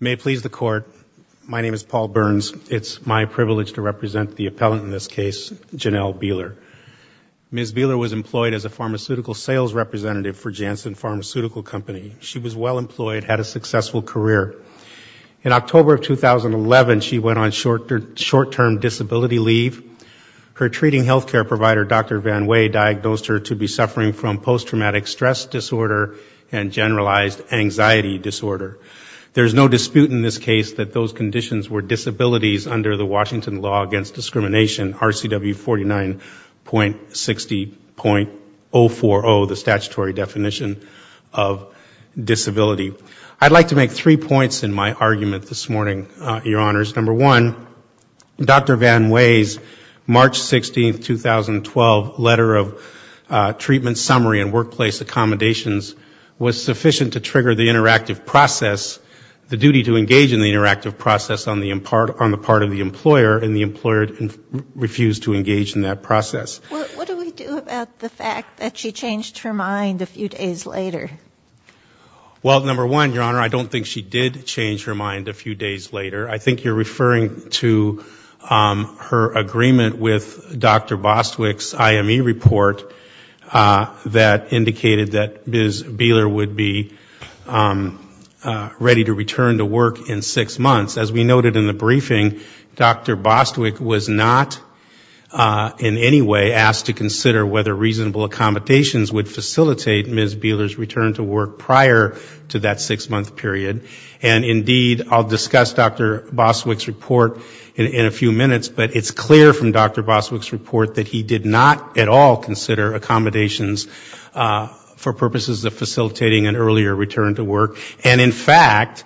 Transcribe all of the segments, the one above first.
May it please the Court, my name is Paul Burns. It's my privilege to represent the appellant in this case, Janelle Behler. Ms. Behler was employed as a pharmaceutical sales representative for Janssen Pharmaceutical Company. She was well-employed, had a successful career. In October of 2011, she went on short-term disability leave. Her treating health care provider, Dr. Van Wey, diagnosed her to be suffering from post-traumatic stress disorder and generalized anxiety disorder. There's no dispute in this case that those conditions were disabilities under the Washington Law Against Discrimination, RCW 49.60.040, the statutory definition of disability. I'd like to make three points in my argument this morning, Your Honors. Number one, Dr. Van Wey's March 16, 2012, letter of treatment summary and workplace accommodations was sufficient to trigger the interactive process, the duty to engage in the interactive process on the part of the employer, and the employer refused to engage in that process. What do we do about the fact that she changed her mind a few days later? Well, number one, Your Honor, I don't think she did change her mind a few days later. I think you're referring to her agreement with Dr. Bostwick's IME report that indicated that Ms. Behler would be ready to return to work in six months. As we noted in the briefing, Dr. Bostwick was not in any way asked to consider whether reasonable accommodations would facilitate Ms. Behler's return to work prior to that six-month period. And indeed, I'll discuss Dr. Bostwick's report in a few minutes, but it's clear from Dr. Bostwick's report that he did not at all consider accommodations for purposes of facilitating an earlier return to work. And in fact,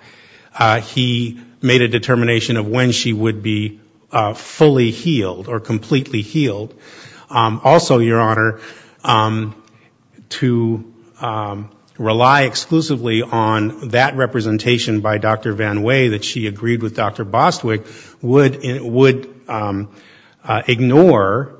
he made a determination of when she would be fully healed or completely healed. Also, Your Honor, to rely exclusively on that representation by Dr. Van Way that she agreed with Dr. Bostwick would ignore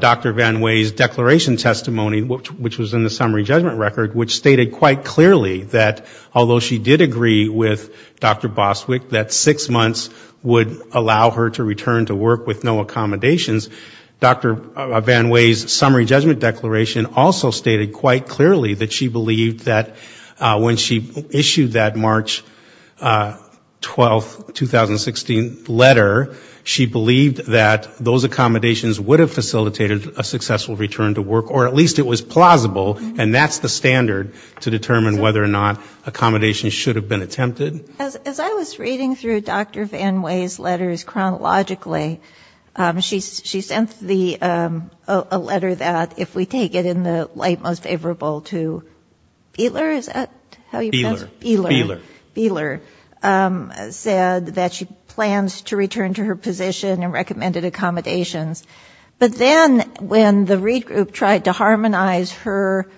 Dr. Van Way's declaration testimony, which was in the summary judgment record, which stated quite clearly that although she did agree with Dr. Bostwick that six months would allow her to return to work with no accommodations, Dr. Van Way's summary judgment declaration also stated quite clearly that she believed that when she issued that March 12, 2016 letter, she believed that those accommodations would facilitate a successful return to work, or at least it was plausible, and that's the standard, to determine whether or not accommodations should have been attempted. As I was reading through Dr. Van Way's letters chronologically, she sent a letter that, if we take it in the light most favorable to Behler, is that how you know, and the read group tried to harmonize her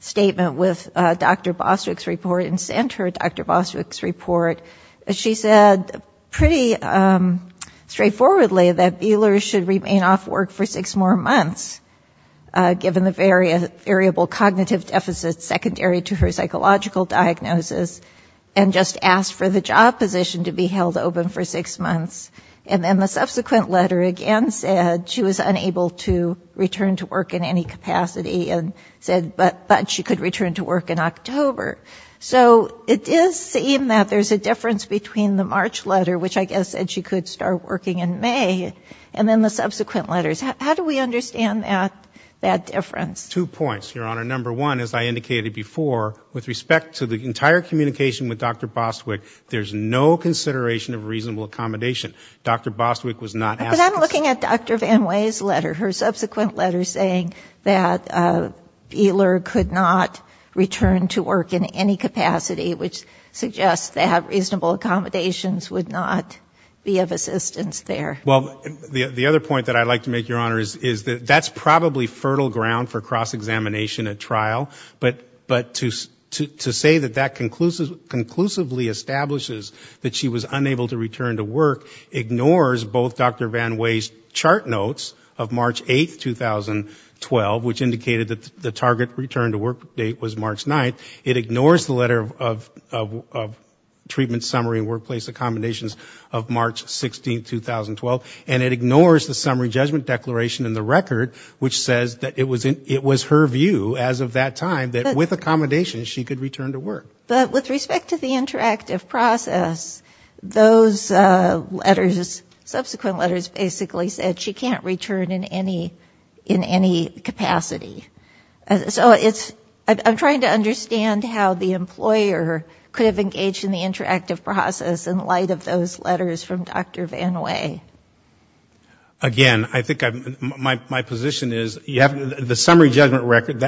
statement with Dr. Bostwick's report and sent her Dr. Bostwick's report. She said pretty straightforwardly that Behler should remain off work for six more months, given the variable cognitive deficit secondary to her psychological diagnosis, and just asked for the job position to be held open for six months. And then the read group said she could return to work in any capacity, and said, but she could return to work in October. So it does seem that there's a difference between the March letter, which I guess said she could start working in May, and then the subsequent letters. How do we understand that difference? Two points, Your Honor. Number one, as I indicated before, with respect to the entire communication with Dr. Bostwick, there's no consideration of reasonable accommodation. Dr. Bostwick was not asking for the job position. But I'm looking at Dr. Van Way's letter, her subsequent letter saying that Behler could not return to work in any capacity, which suggests that reasonable accommodations would not be of assistance there. Well, the other point that I'd like to make, Your Honor, is that's probably fertile ground for cross-examination at trial. But to say that that conclusively establishes that she was unable to return to work ignores both Dr. Van Way's chart notes of March 8th, 2012, which indicated that the target return to work date was March 9th. It ignores the letter of treatment summary and workplace accommodations of March 16th, 2012. And it ignores the summary judgment declaration in the record, which says that it was her view as of that time that with accommodations she could return to work. But with respect to the interactive process, those letters, subsequent letters basically said she can't return in any capacity. So it's ‑‑ I'm trying to understand how the employer could have engaged in the interactive process in light of those letters from Dr. Van Way. Again, I think my position is you have the summary judgment record,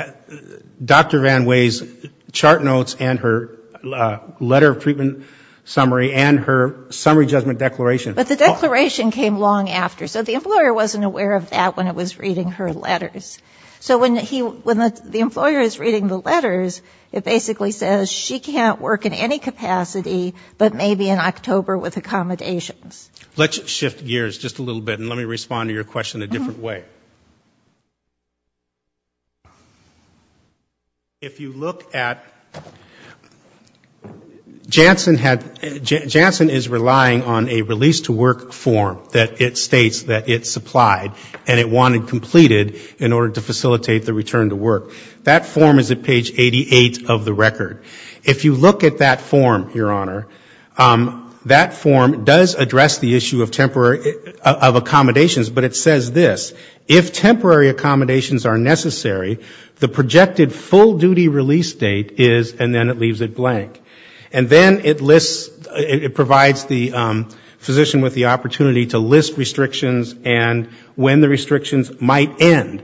Dr. Van Way's chart notes and her letter of treatment summary and her summary judgment declaration. But the declaration came long after. So the employer wasn't aware of that when it was reading her letters. So when the employer is reading the letters, it basically says she can't work in any capacity, but maybe in October with Let me shift gears just a little bit and let me respond to your question a different way. If you look at ‑‑ Janssen had ‑‑ Janssen is relying on a release to work form that it states that it supplied and it wanted completed in order to facilitate the return to work. That form is at page 88 of the record. If you look at that form, your honor, that form does address the issue of temporary ‑‑ of accommodations, but it says this. If temporary accommodations are necessary, the projected full duty release date is and then it leaves it blank. And then it lists ‑‑ it provides the physician with the opportunity to list restrictions and when the restrictions might end.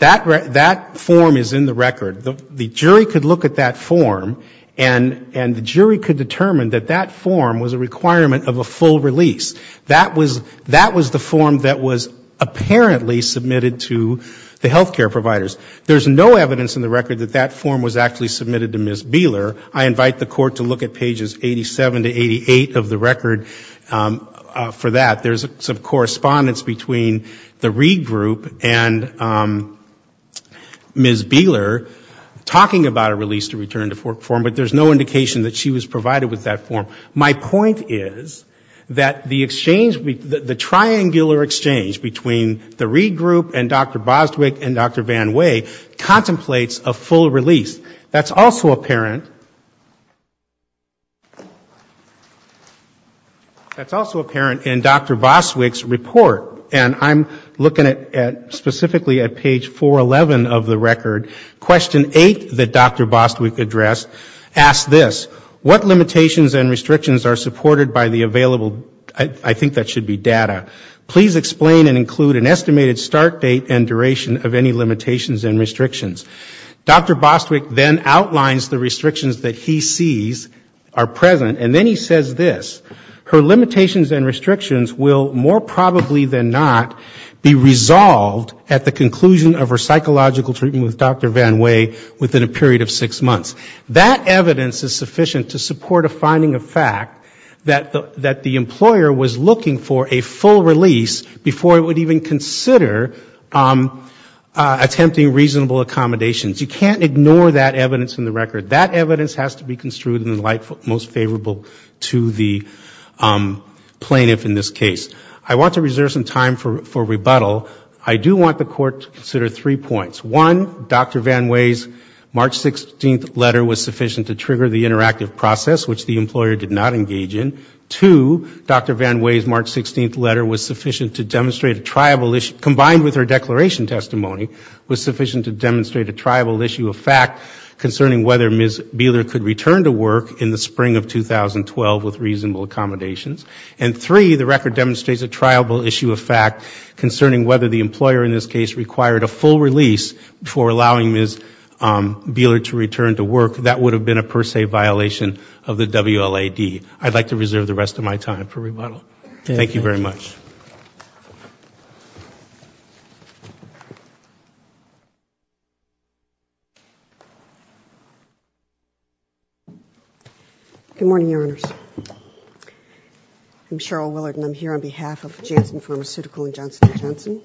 That form is in the record. The jury could look at that form and the jury could determine that that form was a requirement of a full release. That was the form that was apparently submitted to the healthcare providers. There's no evidence in the record that that form was actually submitted to Ms. Beeler. I invite the court to look at pages 87 to 88 of the record for that. There's some correspondence between the Reed Group and Ms. Beeler talking about a release to return to work form, but there's no indication that she was provided with that form. My point is that the exchange ‑‑ the triangular exchange between the Reed Group and Dr. Boswick and Dr. Van Way contemplates a full release. That's also apparent in Dr. Boswick's case. In Dr. Boswick's report, and I'm looking at specifically at page 411 of the record, question 8 that Dr. Boswick addressed asks this, what limitations and restrictions are supported by the available ‑‑ I think that should be data. Please explain and include an estimated start date and duration of any limitations and restrictions. Dr. Boswick then outlines the restrictions that he sees are present, and then he says this, her limitations and restrictions will more probably than not be resolved at the conclusion of her psychological treatment with Dr. Van Way within a period of six months. That evidence is sufficient to support a finding of fact that the employer was looking for a full release before it would even consider attempting reasonable accommodations. You can't ignore that evidence in the record. That evidence has to be construed in the light most favorable to the plaintiff in this case. I want to reserve some time for rebuttal. I do want the Court to consider three points. One, Dr. Van Way's March 16th letter was sufficient to trigger the interactive process, which the employer did not engage in. Two, Dr. Van Way's March 16th letter is a triable issue of fact concerning whether Ms. Buehler could return to work in the spring of 2012 with reasonable accommodations. And three, the record demonstrates a triable issue of fact concerning whether the employer in this case required a full release before allowing Ms. Buehler to return to work. That would have been a per se violation of the WLAD. I would like to reserve the rest of my time for rebuttal. Thank you very much. Good morning, Your Honors. I'm Cheryl Willard and I'm here on behalf of Janssen Pharmaceutical and Johnson & Johnson.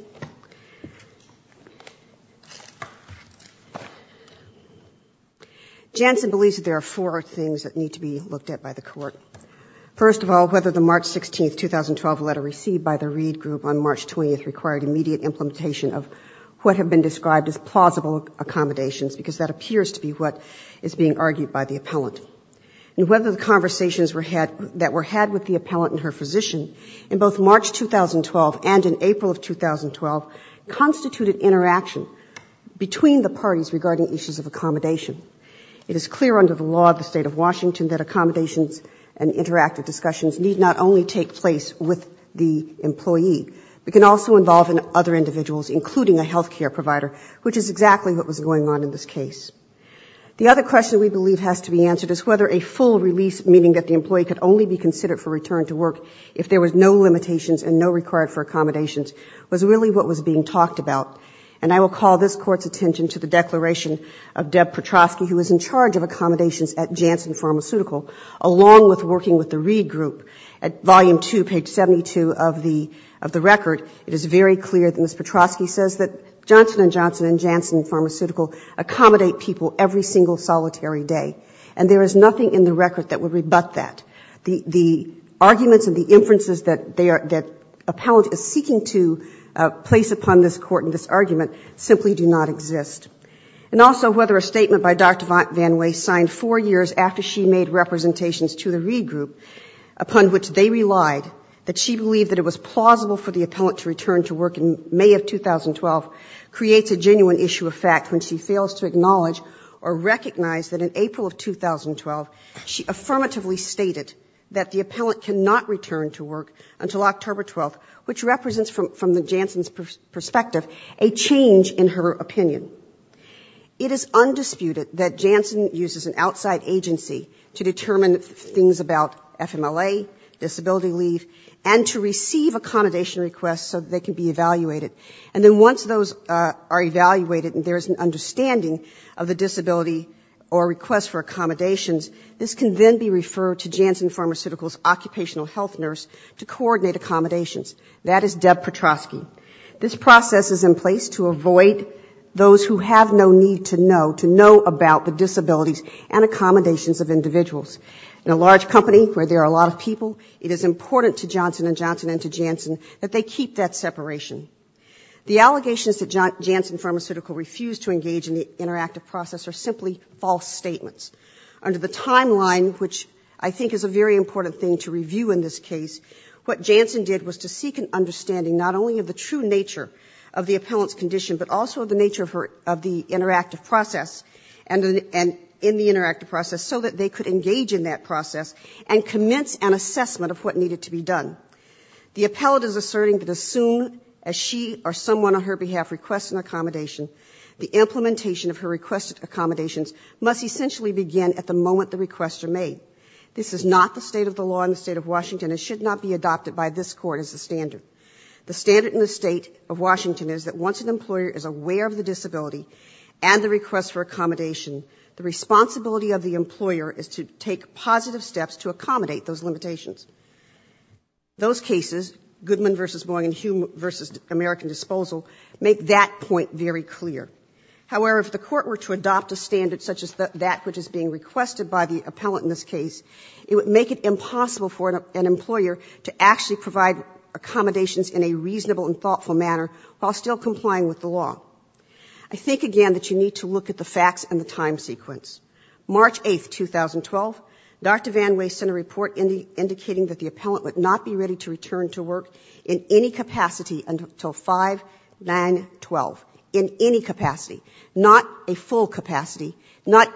Janssen believes that there are four things that need to be looked at by the Court. First of all, whether the March 16th, 2012 letter received by the Reed Group on March 20th required immediate implementation of what have been described as plausible accommodations, because that appears to be what is being argued by the appellant. And whether the conversations that were had with the appellant and her physician in both March 2012 and in April of 2012 constituted interaction between the parties regarding issues of accommodation. It is clear under the law of the State of Washington that accommodations and interactive discussions need not only take place with the employee, but can also involve other individuals, including a health care provider, which is exactly what was going on in this case. The other question we believe has to be answered is whether a full release, meaning that the employee could only be considered for return to work if there was no limitations and no requirement for accommodations, was really what was being talked about. And I will call this Court's attention to the declaration of Deb Petrosky, who is in charge of accommodations at Janssen Pharmaceutical, along with working with the Reed Group. At volume two, page 72 of the record, it is very clear that Ms. Petrosky says that Johnson & Johnson and Janssen Pharmaceutical accommodate people every single solitary day. And there is nothing in the record that would rebut that. The arguments and the inferences that appellant is seeking to place upon this Court in this argument simply do not exist. And also whether a statement by Dr. VanWey signed four years after she made representations to the Reed Group, upon which they relied, that she believed it was plausible for the appellant to return to work in May of 2012, creates a genuine issue of fact when she fails to acknowledge or recognize that in April of 2012, she affirmatively stated that the appellant cannot return to work until October 12th, which represents, from the Janssen's perspective, a change in her opinion. It is undisputed that Janssen uses an outside agency to determine things about FMLA, disability leave, and to receive accommodation requests so they can be evaluated. And then once those are evaluated and there is an understanding of the disability or request for accommodations, this can then be referred to Janssen That is Deb Petrosky. This process is in place to avoid those who have no need to know, to know about the disabilities and accommodations of individuals. In a large company where there are a lot of people, it is important to Johnson & Johnson and to Janssen that they keep that separation. The allegations that Janssen Pharmaceutical refused to engage in the interactive process are simply false statements. Under the timeline, which I think is a very important thing to review in this case, what Janssen did was to seek an understanding not only of the true nature of the appellant's condition, but also of the nature of the interactive process, and in the interactive process, so that they could engage in that process and commence an assessment of what needed to be done. The appellant is required to make a request for accommodations. This is not the state of the law in the State of Washington and should not be adopted by this Court as the standard. The standard in the State of Washington is that once an employer is aware of the disability and the request for accommodation, the responsibility of the employer is to take positive steps to accommodate those limitations. Those cases, Goodman v. Boeing and Hume v. American Disposal, make that point very clear. However, if the Court were to adopt a standard such as that which is being requested by the appellant in this case, it would make it impossible for an employer to actually provide accommodations in a reasonable and thoughtful manner while still complying with the law. I think, again, that you need to look at the facts and the time sequence. March 8, 2012, Dr. VanWay sent a report indicating that the appellant would not be ready to return to work in any capacity until 5-9-12. In any capacity. Not a full capacity. Not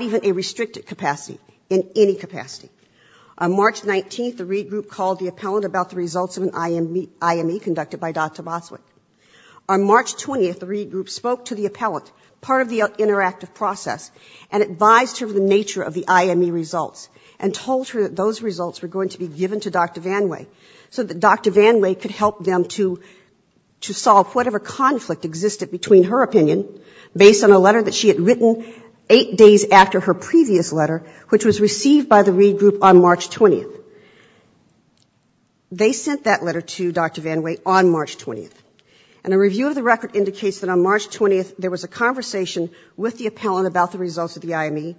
even a restricted capacity. In any capacity. On March 19, the regroup called the appellant about the results of an IME conducted by Dr. Boswick. On March 20, the regroup spoke to the appellant, part of the interactive process, and advised her of the nature of the IME results and told her that those results were going to be given to Dr. VanWay, so that Dr. VanWay could help them to solve whatever conflict existed between her opinion, based on a letter that she had written eight days after her previous letter, which was received by the regroup on March 20. They sent that letter to Dr. VanWay on March 20. And a review of the record indicates that on March 20, there was a conversation with the appellant about the results of the IME,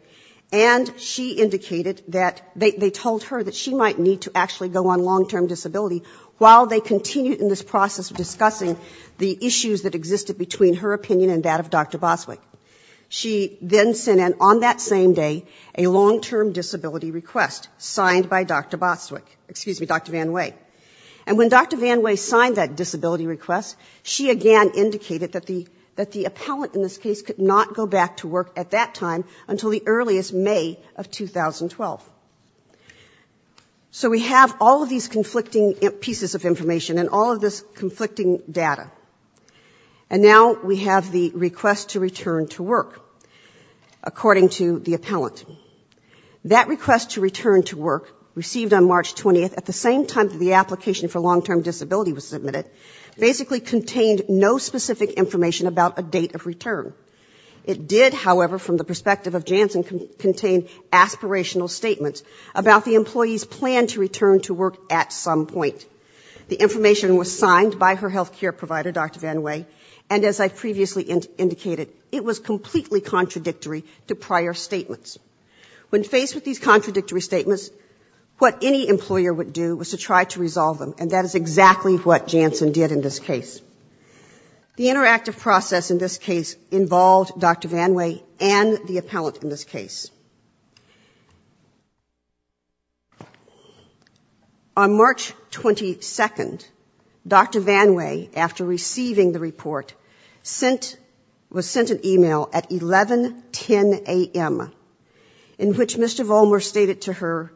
and she indicated that they told her that she might need to actually go on long-term disability, while they continued in this process of discussing the issues that existed between her opinion and that of Dr. Boswick. She then sent in, on that same day, a long-term disability request signed by Dr. Boswick, excuse me, Dr. VanWay. And when Dr. VanWay signed that disability request, she again indicated that the appellant in this case could not go back to work at that time until the earliest May of 2012. So we have all of these conflicting pieces of information and all of this conflicting data. And now we have the request to return to work, according to the appellant. That request to return to work, received on March 20, at the same time that the application for long-term disability was submitted, basically contained no specific information about a date of return. It did, however, from the perspective of Janssen, contain aspirational statements about the employee's plan to return to work at some point. The information was signed by her health care provider, Dr. VanWay, and as I previously indicated, it was completely contradictory to prior statements. When faced with these contradictory statements, what any employer would do was to try to resolve them. And that is exactly what Janssen did in this case. The interactive process in this case involved Dr. VanWay and the appellant in this case. On March 22, Dr. VanWay, after receiving the report, was sent an e-mail at 11.10 a.m., in which Mr. Vollmer stated to her,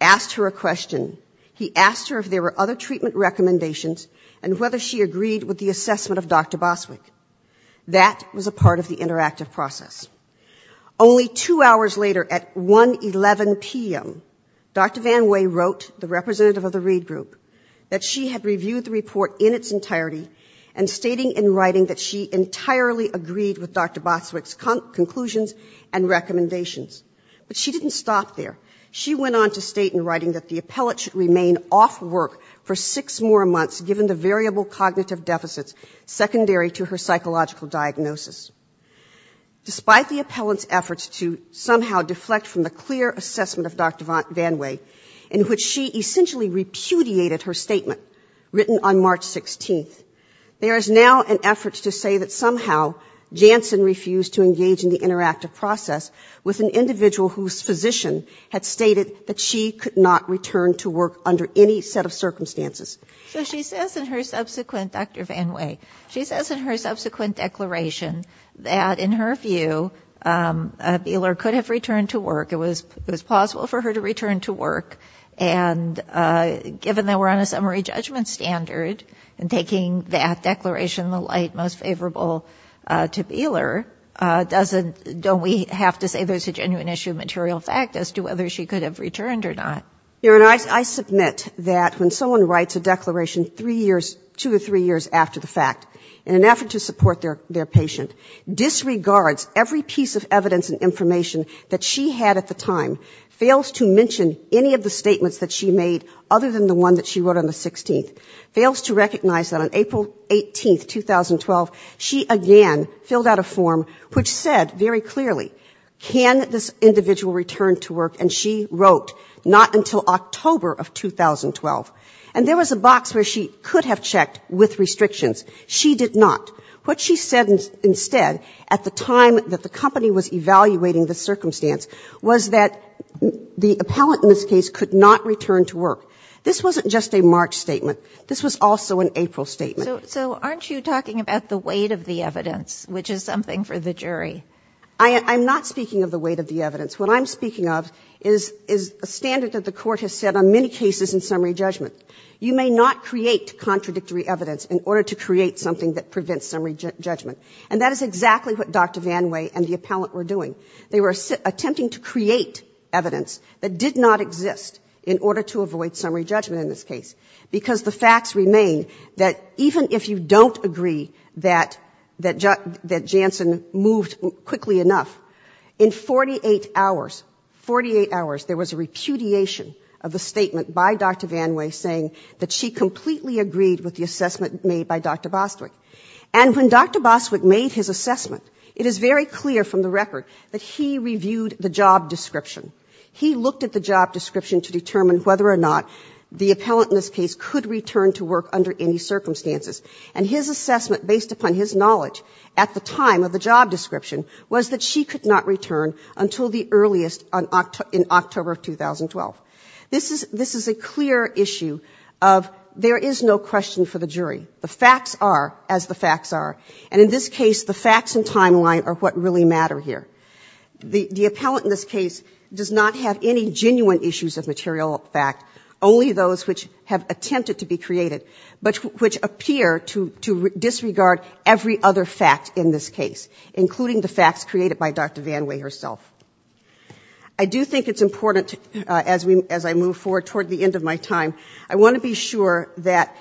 asked her a question. He asked her if there were other treatment recommendations and whether she agreed with the assessment of Dr. Boswick. That was a part of the interactive process. Only two hours later, at 1.11 p.m., Dr. VanWay wrote the representative of the read group that she had reviewed the report in its entirety and stating in writing that she entirely agreed with Dr. Boswick's conclusions and recommendations. But she didn't stop there. She went on to state in writing that the appellate should remain off work for six more months given the variable cognitive deficits secondary to her psychological diagnosis. Despite the appellant's efforts to somehow deflect from the clear assessment of Dr. VanWay, in which she essentially repudiated her statement written on March 16, there is now an effort to say that somehow Janssen refused to engage in the interactive process with an individual whose physician had stated that she could not return to work under any set of circumstances. So she says in her subsequent, Dr. VanWay, she says in her subsequent declaration that in her view, Beeler could have returned to work. It was possible for her to return to work. And given that we're on a summary judgment standard and taking that declaration in the light most favorable to Beeler, doesn't don't we have to say there's a genuine issue of material fact as to whether she could have returned or not? I submit that when someone writes a declaration two or three years after the fact, in an effort to support their patient, disregards every piece of evidence and information that she had at the time, fails to mention any of the statements that she made other than the one that she wrote on the 16th, fails to recognize that on April 18, 2012, she again filled out a form which said very clearly, can this individual return to work? And she wrote, not until October of 2012. And there was a box where she could have checked with restrictions. She did not. What she said instead at the time that the company was evaluating the circumstance was that the appellant in this case could not return to work. This wasn't just a March statement. This was also an April statement. So aren't you talking about the weight of the evidence, which is something for the jury? I'm not speaking of the weight of the evidence. What I'm speaking of is a standard that the Court has set on many cases in summary judgment. You may not create contradictory evidence in order to create something that prevents summary judgment. And that is exactly what Dr. VanWay and the appellant were doing. They were attempting to create evidence that did not exist in order to avoid summary judgment in this case, because the facts remain that even if you don't agree that Jansen moved quickly enough, in 48 hours, 48 hours, there was a repudiation of the statement by Dr. VanWay saying that she completely agreed with the assessment made by Dr. Bostwick. And when Dr. Bostwick made his assessment, it is very clear from the record that he reviewed the job description to determine whether or not the appellant in this case could return to work under any circumstances. And his assessment, based upon his knowledge at the time of the job description, was that she could not return until the earliest in October of 2012. This is a clear issue of there is no question for the jury. The facts are as the facts are. And in this case, the facts and timeline are what really matter here. The appellant in this case does not have any genuine issues of material fact, only those which have attempted to be created, but which appear to disregard every other fact in this case, including the facts created by Dr. VanWay herself. I do think it's important, as I move forward toward the end of my time, I want to be sure that,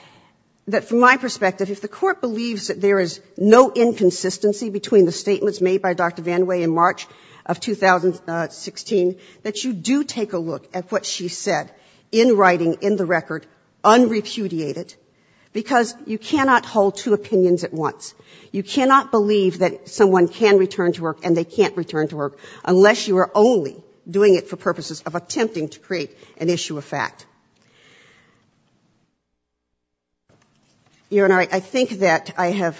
from my perspective, if the Court believes that there is no inconsistency between the statements made by Dr. VanWay in March of 2016, that you do take a look at what she said in writing, in the record, unrepudiated, because you cannot hold two opinions at once. You cannot believe that someone can return to work and they can't return to work, unless you are only doing it for purposes of attempting to create an issue of fact. Your Honor, I think that I have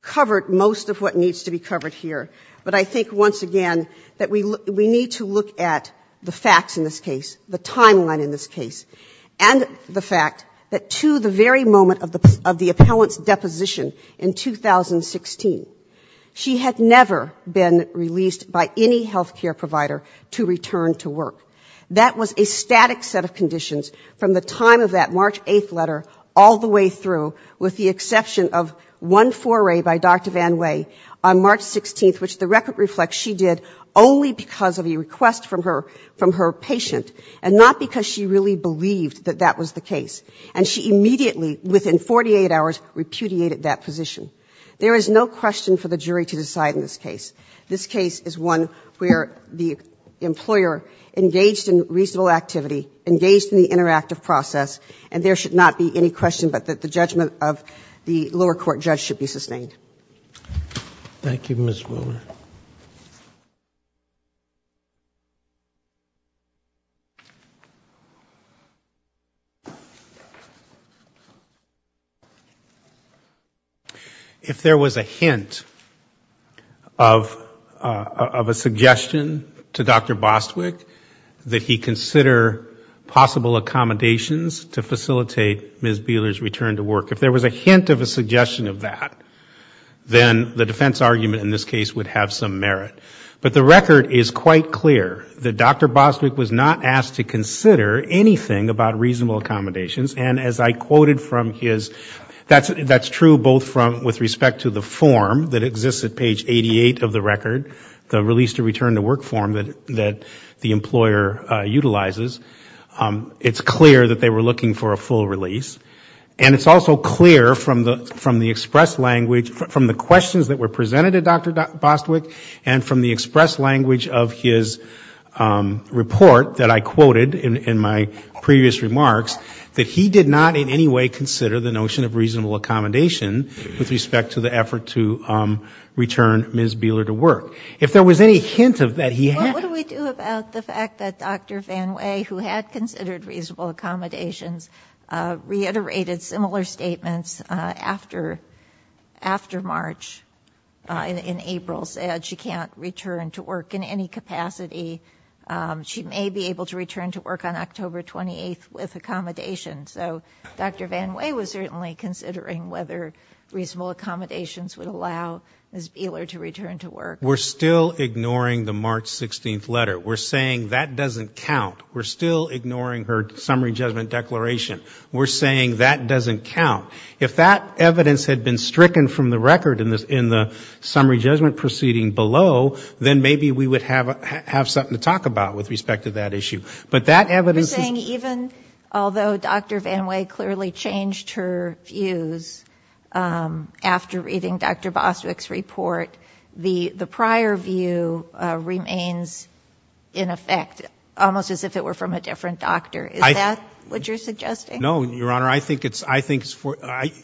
covered most of what needs to be covered here, but I think once again, that we need to look at the facts in this case, the timeline in this case, and the fact that to the very moment of the appellant's deposition in 2016, she had never been released by any health care provider to return to work. That was a static set of conditions from the time of that March 8th letter all the way through, with the exception of one foray by Dr. VanWay on March 16th, which the record reflects she did only because of a request from her patient, and not because she really believed that that was the case. And she immediately, within 48 hours, repudiated that position. There is no question for the jury to decide in this case. She was engaged in reasonable activity, engaged in the interactive process, and there should not be any question but that the judgment of the lower court judge should be sustained. Thank you, Ms. Wilmer. If there was a hint of a suggestion to Dr. Bostwick, that would be a hint to Dr. Bostwick, that the judge should consider possible accommodations to facilitate Ms. Beeler's return to work. If there was a hint of a suggestion of that, then the defense argument in this case would have some merit. But the record is quite clear that Dr. Bostwick was not asked to consider anything about reasonable accommodations, and as I quoted from his, that's true both with respect to the form that exists at page 88 of the record, the employer utilizes, it's clear that they were looking for a full release. And it's also clear from the express language, from the questions that were presented to Dr. Bostwick, and from the express language of his report that I quoted in my previous remarks, that he did not in any way consider the notion of reasonable accommodation with respect to the effort to return Ms. Beeler to work. If there was any hint of that, he had. Well, what do we do about the fact that Dr. VanWay, who had considered reasonable accommodations, reiterated similar statements after March, in April, said she can't return to work in any capacity. She may be able to return to work on October 28th with accommodations. So Dr. VanWay was certainly considering whether reasonable accommodations would allow Ms. Beeler to return to work. We're still ignoring the March 16th letter. We're saying that doesn't count. We're still ignoring her summary judgment declaration. We're saying that doesn't count. If that evidence had been stricken from the record in the summary judgment proceeding below, then maybe we would have something to talk about with respect to that issue. But that evidence is... But you're saying even although Dr. VanWay clearly changed her views after reading Dr. Bostwick's report, the prior view remains in effect, almost as if it were from a different doctor. Is that what you're suggesting? No, Your Honor. I think it's for,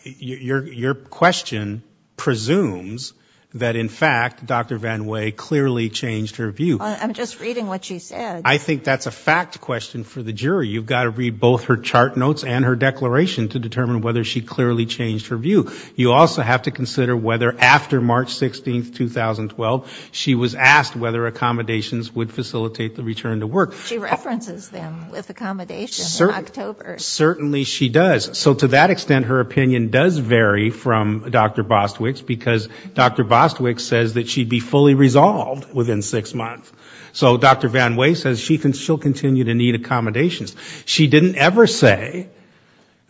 your question presumes that in fact Dr. VanWay clearly changed her view. I think that's a fact question for the jury. You've got to read both her chart notes and her declaration to determine whether she clearly changed her view. You also have to consider whether after March 16th, 2012, she was asked whether accommodations would facilitate the return to work. She references them with accommodations in October. Certainly she does. So to that extent her opinion does vary from Dr. Bostwick's, because Dr. Bostwick's says that she'd be fully resolved within six months. Dr. VanWay says she'll continue to need accommodations. She didn't ever say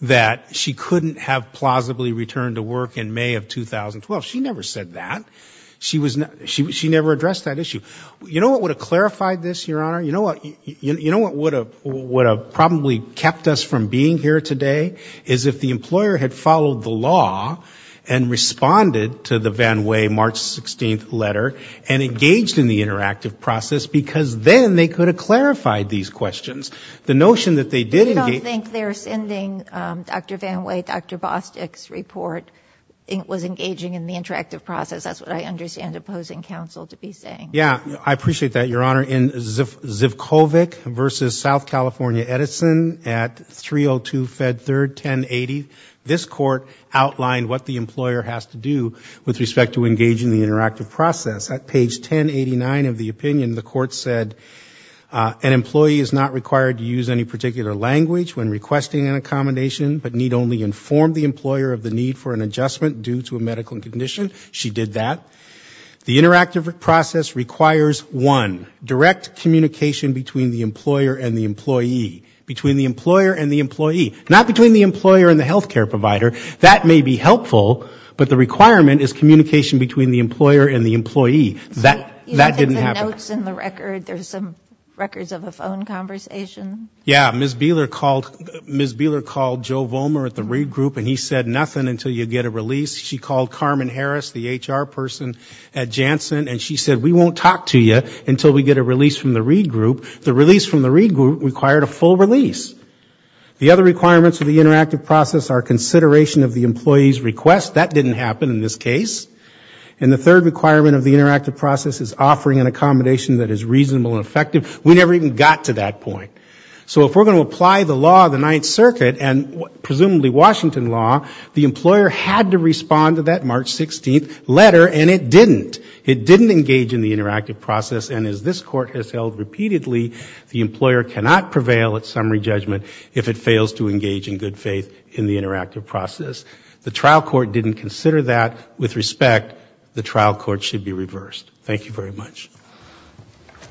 that she couldn't have plausibly returned to work in May of 2012. She never said that. She never addressed that issue. You know what would have clarified this, Your Honor? You know what would have probably kept us from being here today? Is if the employer had followed the law and responded to the VanWay March 16th letter and engaged in the interactive process. Because then they could have clarified these questions. The notion that they did engage. I don't think they're sending Dr. VanWay, Dr. Bostwick's report was engaging in the interactive process. That's what I understand opposing counsel to be saying. Yeah, I appreciate that, Your Honor. In Zivkovic v. South California Edison at 302 Fed 3rd, 1080, this court outlined what the employer has to do with respect to engaging in the interactive process. At page 1089 of the opinion, the court said, an employee is not required to use any particular language when requesting an accommodation, but need only inform the employer of the need for an adjustment due to a medical condition. She did that. The interactive process requires, one, direct communication between the employer and the employee. Between the employer and the employee. Not between the employer and the healthcare provider. That may be helpful, but the requirement is communication between the employer and the employee. That didn't happen. Yeah, Ms. Beeler called Joe Vollmer at the Reed Group and he said nothing until you get a release. She called Carmen Harris, the HR person at Janssen, and she said, we won't talk to you until we get a release from the Reed Group. The release from the Reed Group required a full release. The other requirements of the interactive process are consideration of the employee's request. That didn't happen in this case. And the third requirement of the interactive process is offering an accommodation that is reasonable and effective. We never even got to that point. So if we're going to apply the law of the Ninth Circuit, and presumably Washington law, the employer had to respond to that March 16th letter, and it didn't. It didn't engage in the interactive process, and as this Court has held repeatedly, the employer cannot prevail at summary judgment if it fails to engage in good faith in the interactive process. The trial court didn't consider that. Therefore, with respect, the trial court should be reversed. Thank you very much.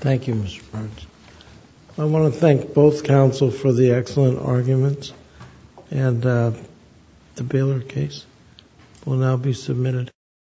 Thank you, Mr. Burns.